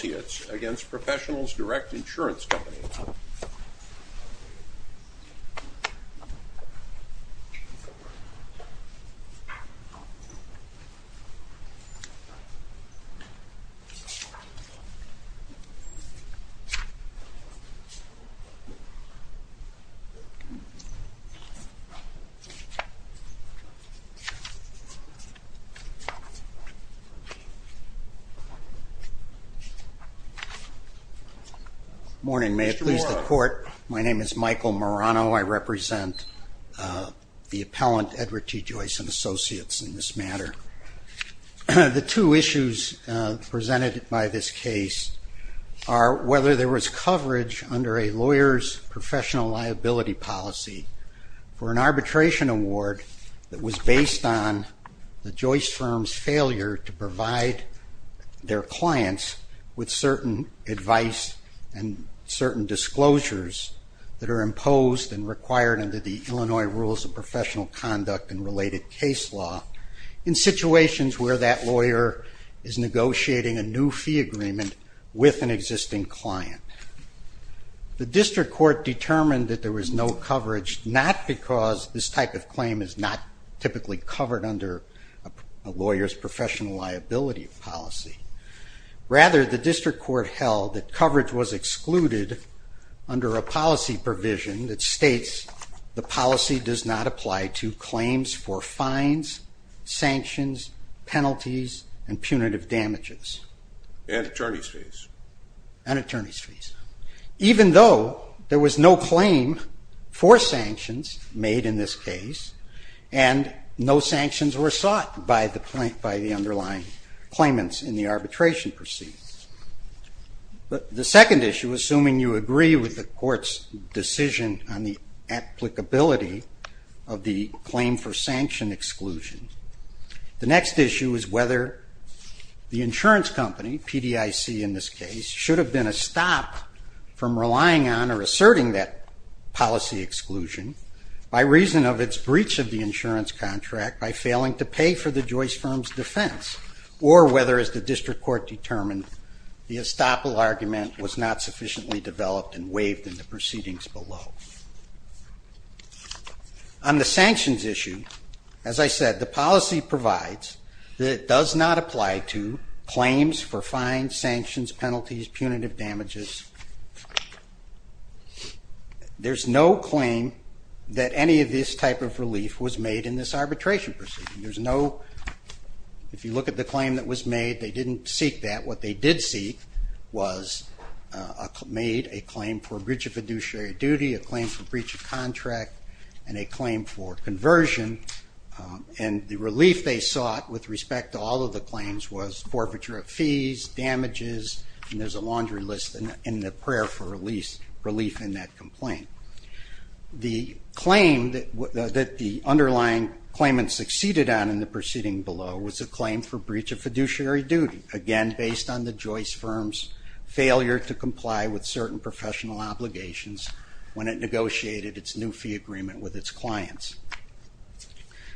Associates v. Professionals Direct Insurance Company Good morning. May it please the court, my name is Michael Marano. I represent the appellant Edward T. Joyce & Associates in this matter. The two issues presented by this case are whether there was coverage under a lawyer's professional liability policy for an arbitration award that was based on the Joyce firm's failure to provide their clients with certain advice and certain disclosures that are imposed and required under the Illinois Rules of Professional Conduct and related case law. In situations where that lawyer is negotiating a new fee agreement with an existing client. The district court determined that there was no coverage, not because this type of claim is not typically covered under a lawyer's professional liability policy. Rather, the district court held that coverage was excluded under a policy provision that states the policy does not apply to claims for fines, sanctions, penalties, and punitive damages. Even though there was no claim for sanctions made in this case and no sanctions were sought by the underlying claimants in the arbitration proceedings. The second issue, assuming you agree with the court's decision on the applicability of the claim for sanction exclusion. The next issue is whether the insurance company, PDIC in this case, should have been a stop from relying on or asserting that policy exclusion by reason of its breach of the insurance contract by failing to pay for the Joyce firm's defense. Or whether, as the district court determined, the estoppel argument was not sufficiently developed and waived in the proceedings below. On the sanctions issue, as I said, the policy provides that it does not apply to claims for fines, sanctions, penalties, punitive damages. There's no claim that any of this type of relief was made in this arbitration proceeding. If you look at the claim that was made, they didn't seek that. What they did seek was a claim for breach of fiduciary duty, a claim for breach of contract, and a claim for conversion. And the relief they sought with respect to all of the claims was forfeiture of fees, damages, and there's a laundry list in the prayer for relief in that complaint. The claim that the underlying claimant succeeded on in the proceeding below was a claim for breach of fiduciary duty. Again, based on the Joyce firm's failure to comply with certain professional obligations when it negotiated its new fee agreement with its clients.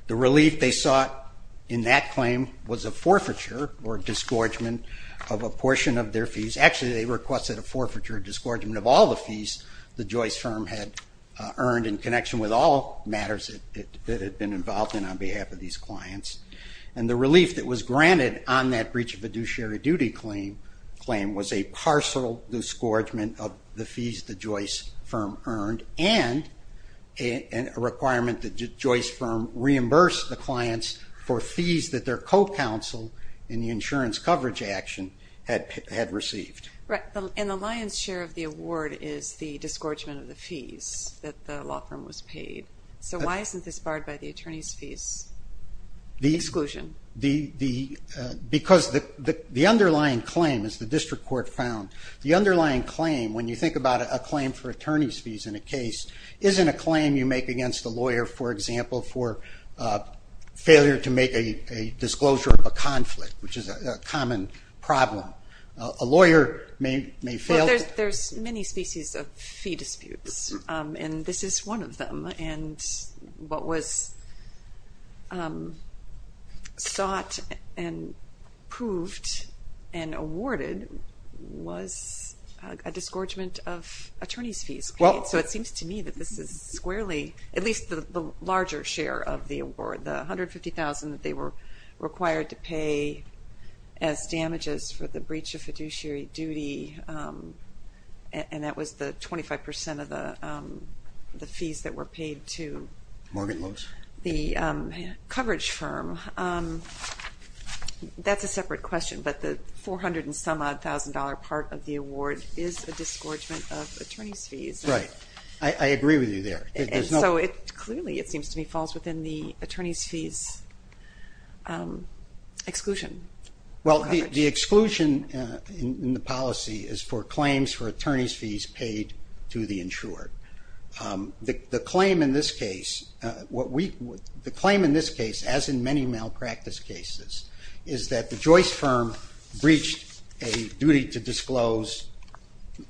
The relief they sought in that claim was a forfeiture or disgorgement of a portion of their fees. Actually, they requested a forfeiture or disgorgement of all the fees the Joyce firm had earned in connection with all matters it had been involved in on behalf of these clients. And the relief that was granted on that breach of fiduciary duty claim was a parcel disgorgement of the fees the Joyce firm earned and a requirement that the Joyce firm reimburse the clients for fees that their co-counsel in the insurance coverage action had received. And the lion's share of the award is the disgorgement of the fees that the law firm was paid. So why isn't this barred by the attorney's fees exclusion? Because the underlying claim, as the district court found, the underlying claim, when you think about a claim for attorney's fees in a case, isn't a claim you make against a lawyer, for example, for failure to make a disclosure of a conflict, which is a common problem. A lawyer may fail to... Well, there's many species of fee disputes, and this is one of them. And what was sought and proved and awarded was a disgorgement of attorney's fees. So it seems to me that this is squarely, at least the larger share of the award, the $150,000 that they were required to pay as damages for the breach of fiduciary duty, and that was the 25% of the fees that were paid to the coverage firm. That's a separate question, but the $400-and-some-odd-thousand-dollar part of the award is a disgorgement of attorney's fees. Right. I agree with you there. And so it clearly, it seems to me, falls within the attorney's fees exclusion. Well, the exclusion in the policy is for claims for attorney's fees paid to the insured. The claim in this case, as in many malpractice cases, is that the Joyce firm breached a duty to disclose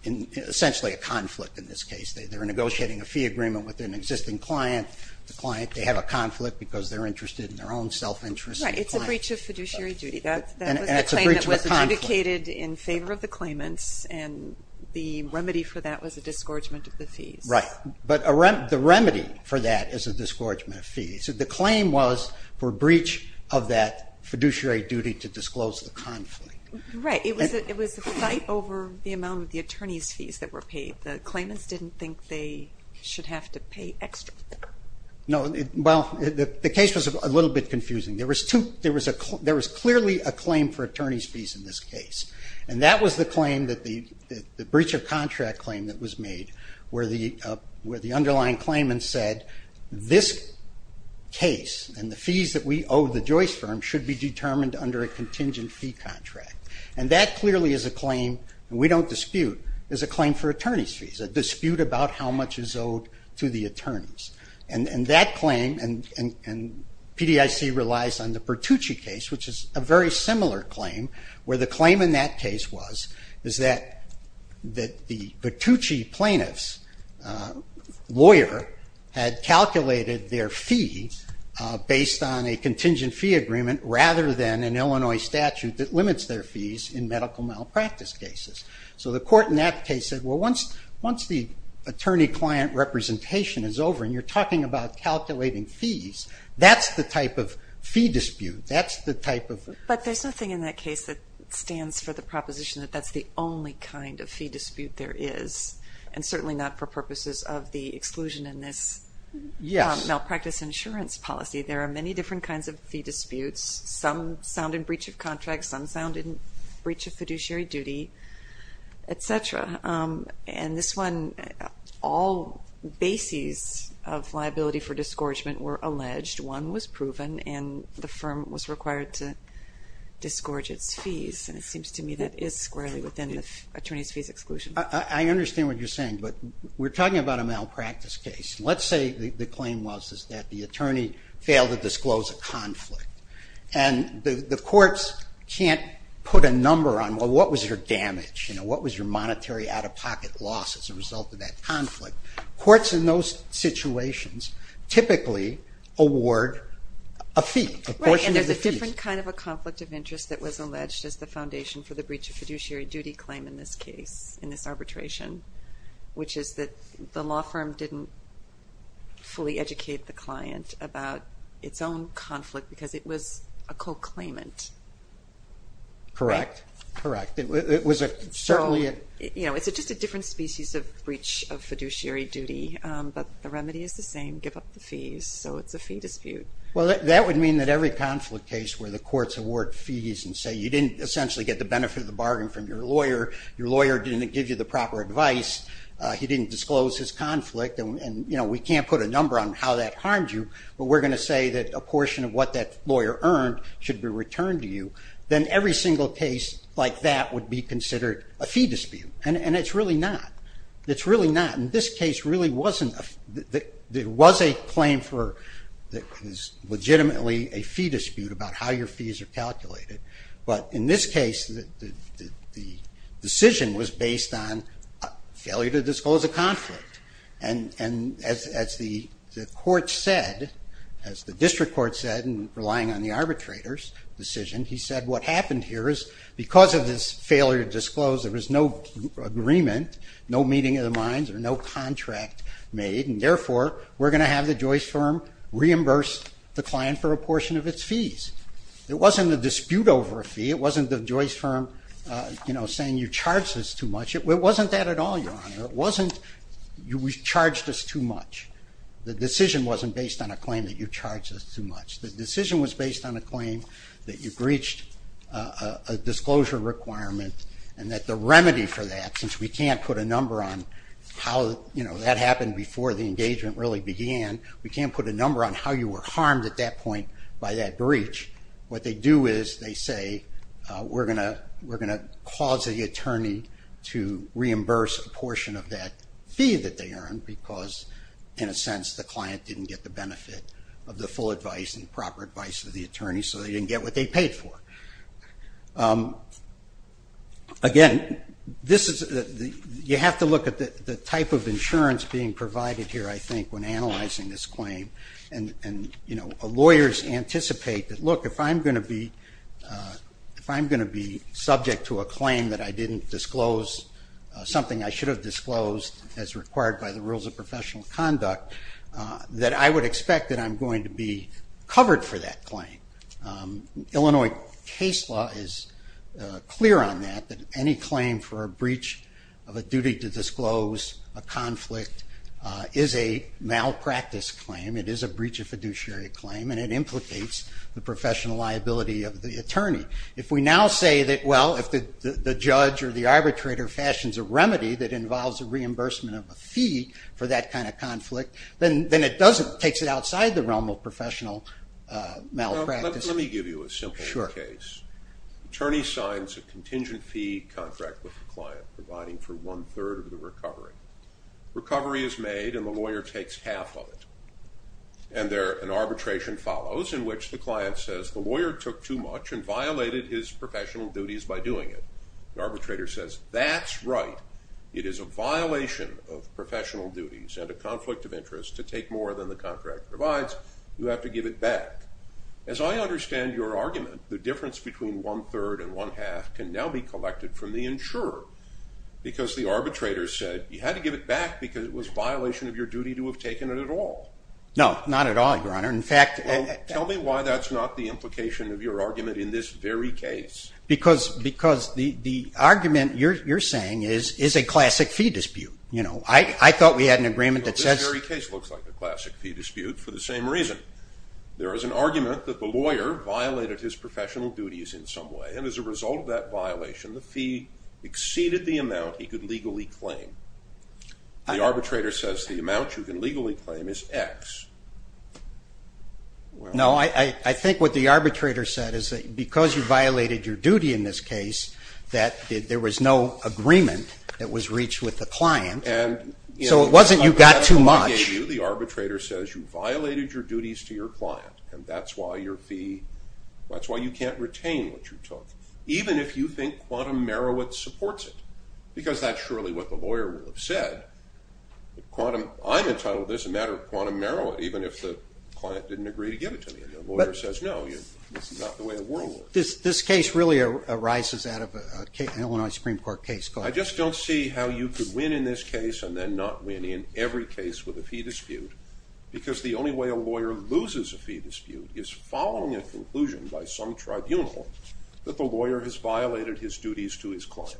essentially a conflict in this case. They're negotiating a fee agreement with an existing client. The client, they have a conflict because they're interested in their own self-interest. Right. It's a breach of fiduciary duty. That was the claim that was adjudicated in favor of the claimants, and the remedy for that was a disgorgement of the fees. Right. But the remedy for that is a disgorgement of fees. The claim was for breach of that fiduciary duty to disclose the conflict. Right. It was a fight over the amount of the attorney's fees that were paid. The claimants didn't think they should have to pay extra. Well, the case was a little bit confusing. There was clearly a claim for attorney's fees in this case, and that was the breach of contract claim that was made, where the underlying claimant said, this case and the fees that we owe the Joyce firm should be determined under a contingent fee contract. And that clearly is a claim, and we don't dispute, is a claim for attorney's fees, a dispute about how much is owed to the attorneys. And that claim, and PDIC relies on the Pertucci case, which is a very similar claim, where the claim in that case was, is that the Pertucci plaintiff's lawyer had calculated their fee based on a contingent fee agreement, rather than an Illinois statute that limits their fees in medical malpractice cases. So the court in that case said, well, once the attorney-client representation is over, and you're talking about calculating fees, that's the type of fee dispute. But there's nothing in that case that stands for the proposition that that's the only kind of fee dispute there is, and certainly not for purposes of the exclusion in this malpractice insurance policy. There are many different kinds of fee disputes. Some sound in breach of contract, some sound in breach of fiduciary duty, et cetera. And this one, all bases of liability for disgorgement were alleged. One was proven, and the firm was required to disgorge its fees. And it seems to me that is squarely within the attorney's fees exclusion. I understand what you're saying, but we're talking about a malpractice case. Let's say the claim was that the attorney failed to disclose a conflict. And the courts can't put a number on, well, what was your damage? What was your monetary out-of-pocket loss as a result of that conflict? Courts in those situations typically award a fee, a portion of the fees. Right, and there's a different kind of a conflict of interest that was alleged as the foundation for the breach of fiduciary duty claim in this case, in this arbitration, which is that the law firm didn't fully educate the client about its own conflict because it was a co-claimant. Correct, correct. It was certainly a... You know, it's just a different species of breach of fiduciary duty, but the remedy is the same, give up the fees. So it's a fee dispute. Well, that would mean that every conflict case where the courts award fees and say you didn't essentially get the benefit of the bargain from your lawyer, your lawyer didn't give you the proper advice, he didn't disclose his conflict, and, you know, we can't put a number on how that harmed you, but we're going to say that a portion of what that lawyer earned should be returned to you, then every single case like that would be considered a fee dispute. And it's really not. It's really not. And this case really wasn't a... There was a claim for what is legitimately a fee dispute about how your fees are calculated. But in this case, the decision was based on failure to disclose a conflict. And as the court said, as the district court said, relying on the arbitrator's decision, he said what happened here is because of this failure to disclose, there was no agreement, no meeting of the minds, or no contract made, and therefore we're going to have the Joyce firm reimburse the client for a portion of its fees. It wasn't a dispute over a fee. It wasn't the Joyce firm, you know, saying you charged us too much. It wasn't that at all, Your Honor. It wasn't you charged us too much. The decision wasn't based on a claim that you charged us too much. The decision was based on a claim that you breached a disclosure requirement and that the remedy for that, since we can't put a number on how, you know, that happened before the engagement really began, we can't put a number on how you were harmed at that point by that breach, what they do is they say we're going to cause the attorney to reimburse a portion of that fee that they earned because, in a sense, the client didn't get the benefit of the full advice and proper advice of the attorney, so they didn't get what they paid for. Again, you have to look at the type of insurance being provided here, I think, when analyzing this claim, and, you know, lawyers anticipate that, look, if I'm going to be subject to a claim that I didn't disclose something I should have disclosed as required by the rules of professional conduct, that I would expect that I'm going to be covered for that claim. Illinois case law is clear on that, that any claim for a breach of a duty to disclose a conflict is a malpractice claim, it is a breach of fiduciary claim, and it implicates the professional liability of the attorney. If we now say that, well, if the judge or the arbitrator fashions a remedy that involves a reimbursement of a fee for that kind of conflict, then it takes it outside the realm of professional malpractice. Let me give you a simple case. The attorney signs a contingent fee contract with the client providing for one-third of the recovery. Recovery is made and the lawyer takes half of it, and an arbitration follows in which the client says the lawyer took too much and violated his professional duties by doing it. The arbitrator says, that's right, it is a violation of professional duties and a conflict of interest to take more than the contract provides, you have to give it back. As I understand your argument, the difference between one-third and one-half can now be collected from the insurer because the arbitrator said you had to give it back because it was a violation of your duty to have taken it at all. No, not at all, Your Honor. Tell me why that's not the implication of your argument in this very case. Because the argument you're saying is a classic fee dispute. I thought we had an agreement that says... This very case looks like a classic fee dispute for the same reason. There is an argument that the lawyer violated his professional duties in some way, and as a result of that violation, the fee exceeded the amount he could legally claim. The arbitrator says the amount you can legally claim is X. No, I think what the arbitrator said is that because you violated your duty in this case, that there was no agreement that was reached with the client, so it wasn't you got too much. And that's why you can't retain what you took, even if you think Quantum Meroweth supports it. Because that's surely what the lawyer would have said. I'm entitled to this matter of Quantum Meroweth even if the client didn't agree to give it to me. And the lawyer says, no, this is not the way the world works. This case really arises out of an Illinois Supreme Court case. I just don't see how you could win in this case and then not win in every case with a fee dispute because the only way a lawyer loses a fee dispute is following a conclusion by some tribunal that the lawyer has violated his duties to his client.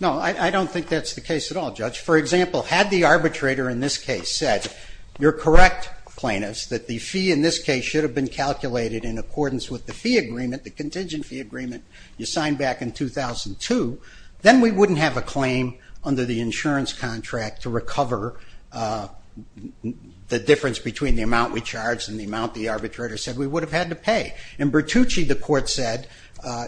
No, I don't think that's the case at all, Judge. For example, had the arbitrator in this case said, you're correct, plaintiff, that the fee in this case should have been calculated in accordance with the fee agreement, the contingent fee agreement you signed back in 2002, then we wouldn't have a claim under the insurance contract to recover the difference between the amount we charged and the amount the arbitrator said we would have had to pay. In Bertucci, the court said,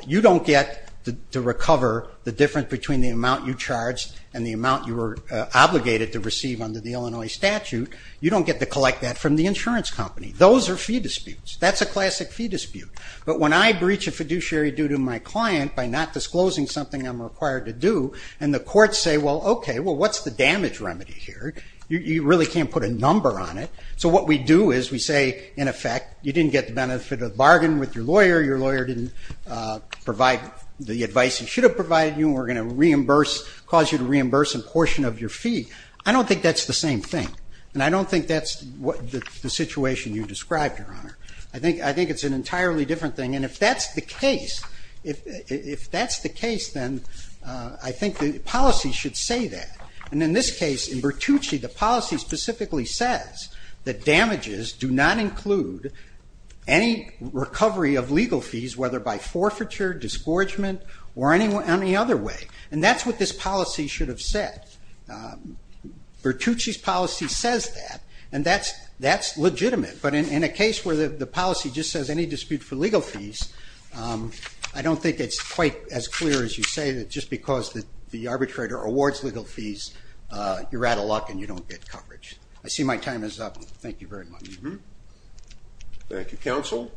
you don't get to recover the difference between the amount you charged and the amount you were obligated to receive under the Illinois statute. You don't get to collect that from the insurance company. Those are fee disputes. That's a classic fee dispute. But when I breach a fiduciary due to my client by not disclosing something I'm required to do, and the courts say, well, okay, well, what's the damage remedy here? You really can't put a number on it. So what we do is we say, in effect, you didn't get the benefit of the bargain with your lawyer, your lawyer didn't provide the advice he should have provided you, and we're going to reimburse, cause you to reimburse a portion of your fee. I don't think that's the same thing, and I don't think that's the situation you described, Your Honor. I think it's an entirely different thing. And if that's the case, if that's the case, then I think the policy should say that. And in this case, in Bertucci, the policy specifically says that damages do not include any recovery of legal fees, whether by forfeiture, disgorgement, or any other way. And that's what this policy should have said. Bertucci's policy says that, and that's legitimate. But in a case where the policy just says any dispute for legal fees, I don't think it's quite as clear as you say that just because the arbitrator awards legal fees, you're out of luck and you don't get coverage. I see my time is up. Thank you very much. Thank you, Counsel.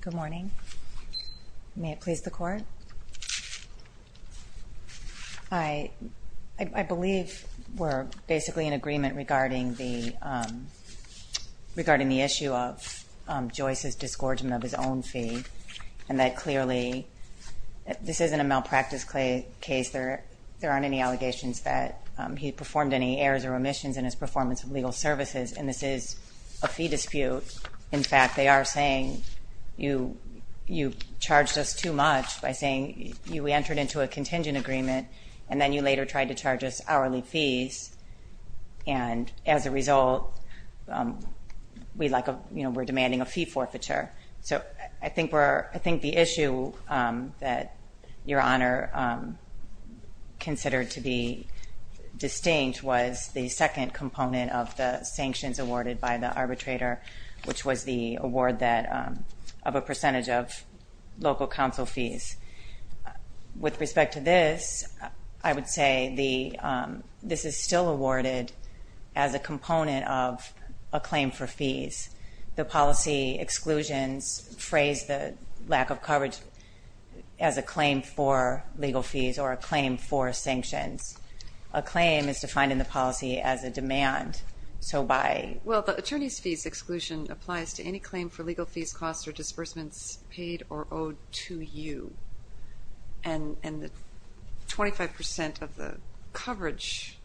Good morning. May it please the Court? I believe we're basically in agreement regarding the issue of Joyce's disgorgement of his own fee, and that clearly this isn't a malpractice case. There aren't any allegations that he performed any errors or omissions in his performance of legal services, and this is a fee dispute. In fact, they are saying you charged us too much by saying we entered into a contingent agreement, and then you later tried to charge us hourly fees, and as a result we're demanding a fee forfeiture. So I think the issue that Your Honor considered to be distinct was the second component of the sanctions awarded by the arbitrator, which was the award of a percentage of local council fees. With respect to this, I would say this is still awarded as a component of a claim for fees. The policy exclusions phrase the lack of coverage as a claim for legal fees or a claim for sanctions. A claim is defined in the policy as a demand. Well, the attorney's fees exclusion applies to any claim for legal fees, costs, or disbursements paid or owed to you, and 25% of the coverage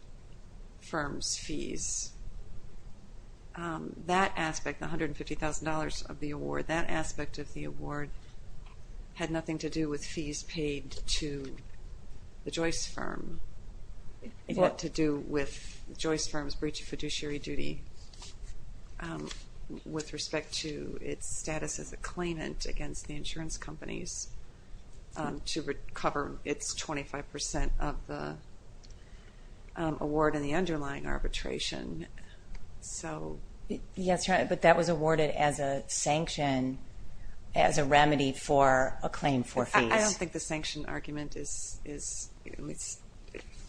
firm's fees, that aspect, $150,000 of the award, that aspect of the award had nothing to do with fees paid to the Joyce firm. It had to do with the Joyce firm's breach of fiduciary duty with respect to its status as a claimant against the insurance companies to recover its 25% of the award and the underlying arbitration. Yes, Your Honor, but that was awarded as a sanction, as a remedy for a claim for fees. I don't think the sanction argument is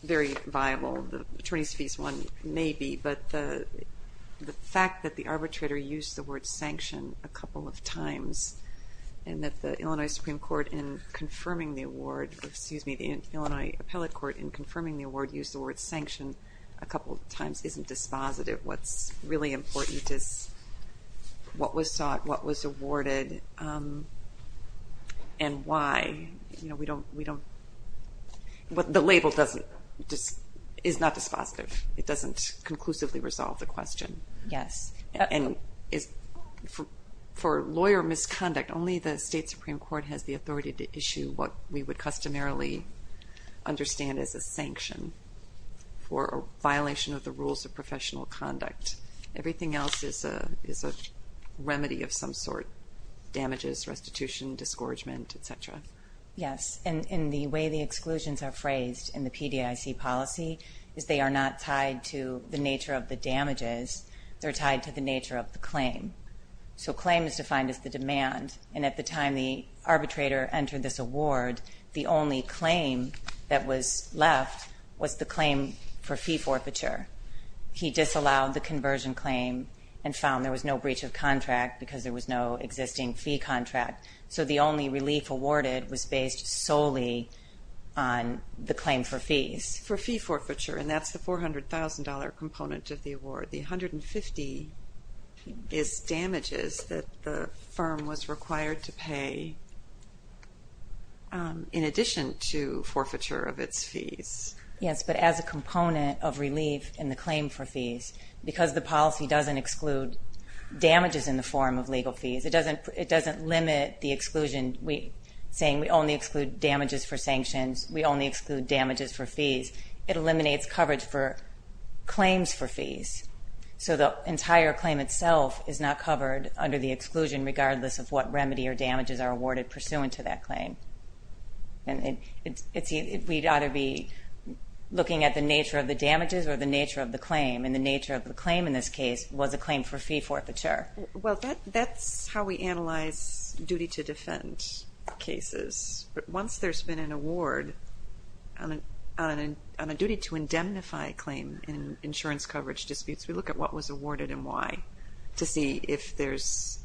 very viable. The attorney's fees one may be, but the fact that the arbitrator used the word sanction a couple of times and that the Illinois Supreme Court in confirming the award, excuse me, the Illinois Appellate Court in confirming the award used the word sanction a couple of times isn't dispositive. What's really important is what was sought, what was awarded, and why. You know, we don't, the label is not dispositive. It doesn't conclusively resolve the question. Yes. And for lawyer misconduct, only the state Supreme Court has the authority to issue what we would customarily understand as a sanction for a violation of the rules of professional conduct. Everything else is a remedy of some sort, damages, restitution, disgorgement, et cetera. Yes, and the way the exclusions are phrased in the PDIC policy is they are not tied to the nature of the damages. They're tied to the nature of the claim. So claim is defined as the demand, and at the time the arbitrator entered this award, the only claim that was left was the claim for fee forfeiture. He disallowed the conversion claim and found there was no breach of contract because there was no existing fee contract. So the only relief awarded was based solely on the claim for fees. For fee forfeiture, and that's the $400,000 component of the award. The $150,000 is damages that the firm was required to pay in addition to forfeiture of its fees. Yes, but as a component of relief in the claim for fees, because the policy doesn't exclude damages in the form of legal fees, it doesn't limit the exclusion, saying we only exclude damages for sanctions, we only exclude damages for fees. It eliminates coverage for claims for fees. So the entire claim itself is not covered under the exclusion regardless of what remedy or damages are awarded pursuant to that claim. We'd either be looking at the nature of the damages or the nature of the claim, and the nature of the claim in this case was a claim for fee forfeiture. Well, that's how we analyze duty to defend cases. Once there's been an award on a duty to indemnify claim in insurance coverage disputes, we look at what was awarded and why to see if there's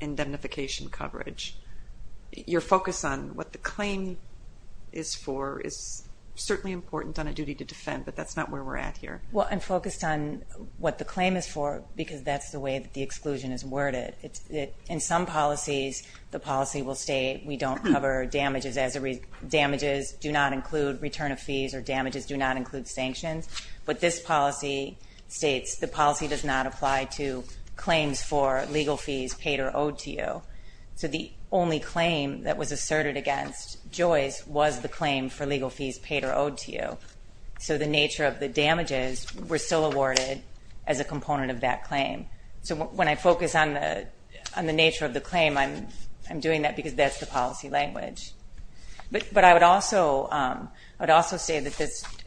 indemnification coverage. Your focus on what the claim is for is certainly important on a duty to defend, but that's not where we're at here. Well, I'm focused on what the claim is for because that's the way that the exclusion is worded. In some policies, the policy will state we don't cover damages as a reason. Damages do not include return of fees or damages do not include sanctions. But this policy states the policy does not apply to claims for legal fees paid or owed to you. So the only claim that was asserted against Joyce was the claim for legal fees paid or owed to you. So the nature of the damages were still awarded as a component of that claim. So when I focus on the nature of the claim, I'm doing that because that's the policy language. But I would also say that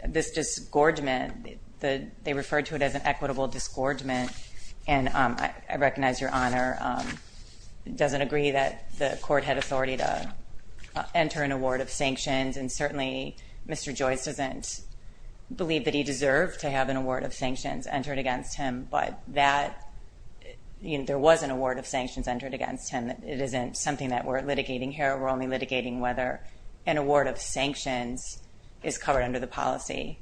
this disgorgement, they referred to it as an equitable disgorgement, and I recognize Your Honor doesn't agree that the court had authority to enter an award of sanctions, and certainly Mr. Joyce doesn't believe that he deserved to have an award of sanctions entered against him. But there was an award of sanctions entered against him. It isn't something that we're litigating here. We're only litigating whether an award of sanctions is covered under the policy.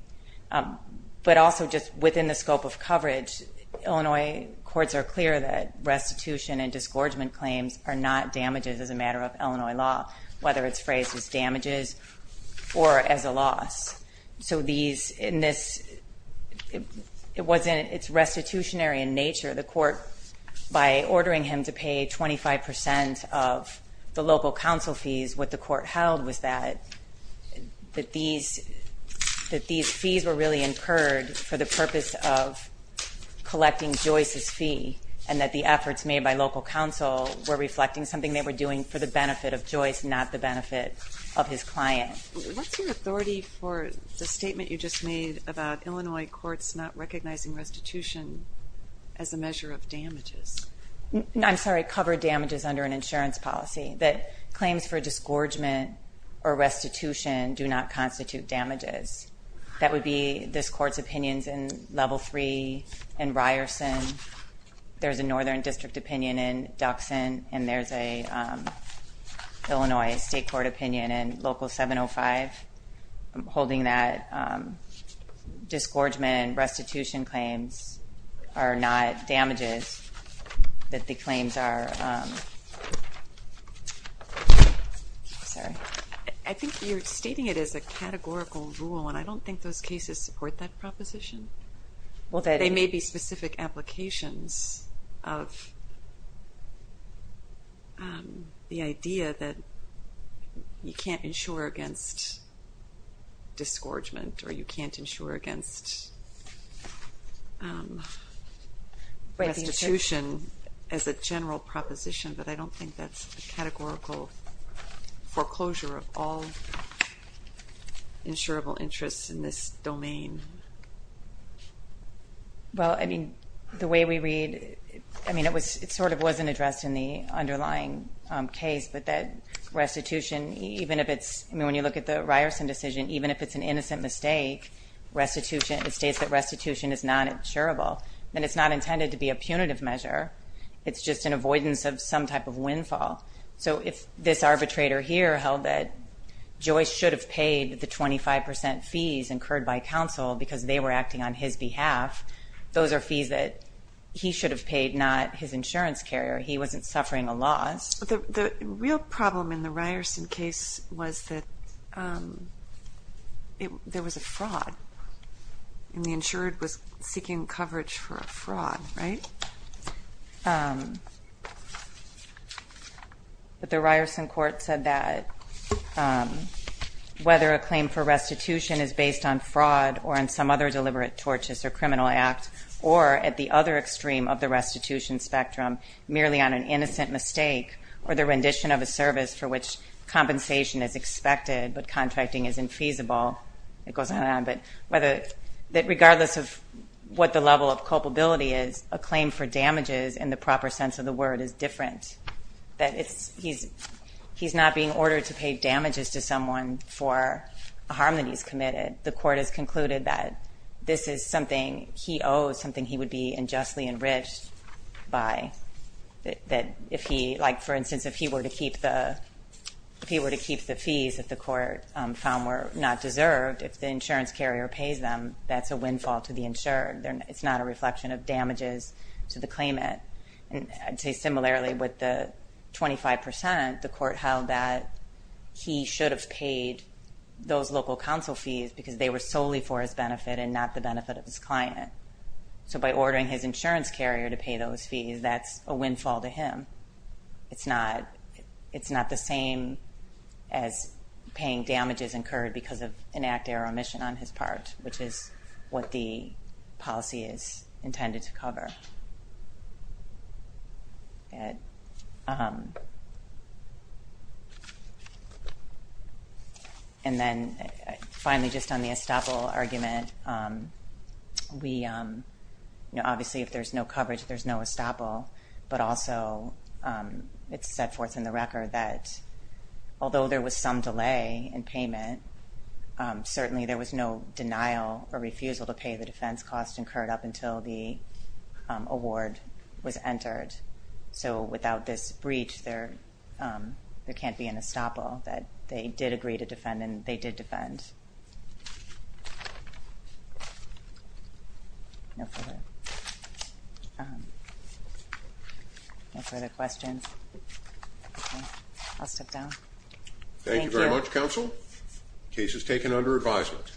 But also just within the scope of coverage, Illinois courts are clear that restitution and disgorgement claims are not damages as a matter of Illinois law, whether it's phrased as damages or as a loss. So these, in this, it wasn't, it's restitutionary in nature. The court, by ordering him to pay 25% of the local council fees, what the court held was that these fees were really incurred for the purpose of collecting Joyce's fee and that the efforts made by local council were reflecting something they were doing for the benefit of Joyce, not the benefit of his client. What's your authority for the statement you just made about Illinois courts not recognizing restitution as a measure of damages? I'm sorry, covered damages under an insurance policy, that claims for disgorgement or restitution do not constitute damages. That would be this court's opinions in Level 3 and Ryerson. There's a northern district opinion in Duxon, and there's an Illinois state court opinion in Local 705. I'm holding that disgorgement and restitution claims are not damages, that the claims are, sorry. I think you're stating it as a categorical rule, and I don't think those cases support that proposition. They may be specific applications of the idea that you can't insure against disgorgement, or you can't insure against restitution as a general proposition, but I don't think that's a categorical foreclosure of all insurable interests in this domain. Well, I mean, the way we read, I mean, it sort of wasn't addressed in the underlying case, but that restitution, even if it's, I mean, when you look at the Ryerson decision, even if it's an innocent mistake, restitution, it states that restitution is not insurable, and it's not intended to be a punitive measure. It's just an avoidance of some type of windfall. So if this arbitrator here held that Joyce should have paid the 25% fees incurred by counsel because they were acting on his behalf, those are fees that he should have paid, not his insurance carrier. He wasn't suffering a loss. The real problem in the Ryerson case was that there was a fraud, and the insured was seeking coverage for a fraud, right? But the Ryerson court said that whether a claim for restitution is based on fraud or on some other deliberate tortious or criminal act or at the other extreme of the restitution spectrum, merely on an innocent mistake or the rendition of a service for which compensation is expected but contracting is infeasible, it goes on and on, that regardless of what the level of culpability is, a claim for damages in the proper sense of the word is different, that he's not being ordered to pay damages to someone for a harm that he's committed. The court has concluded that this is something he owes, something he would be unjustly enriched by, that if he, like for instance, if he were to keep the fees that the court found were not deserved, if the insurance carrier pays them, that's a windfall to the insured. It's not a reflection of damages to the claimant. I'd say similarly with the 25%, the court held that he should have paid those local counsel fees because they were solely for his benefit and not the benefit of his client. So by ordering his insurance carrier to pay those fees, that's a windfall to him. It's not the same as paying damages incurred because of an act or omission on his part, which is what the policy is intended to cover. Go ahead. And then finally, just on the estoppel argument, obviously if there's no coverage, there's no estoppel, but also it's set forth in the record that although there was some delay in payment, certainly there was no denial or refusal to pay the defense cost incurred up until the award was entered. So without this breach, there can't be an estoppel that they did agree to defend and they did defend. No further questions? I'll step down. Thank you very much, Counsel. Case is taken under advisement.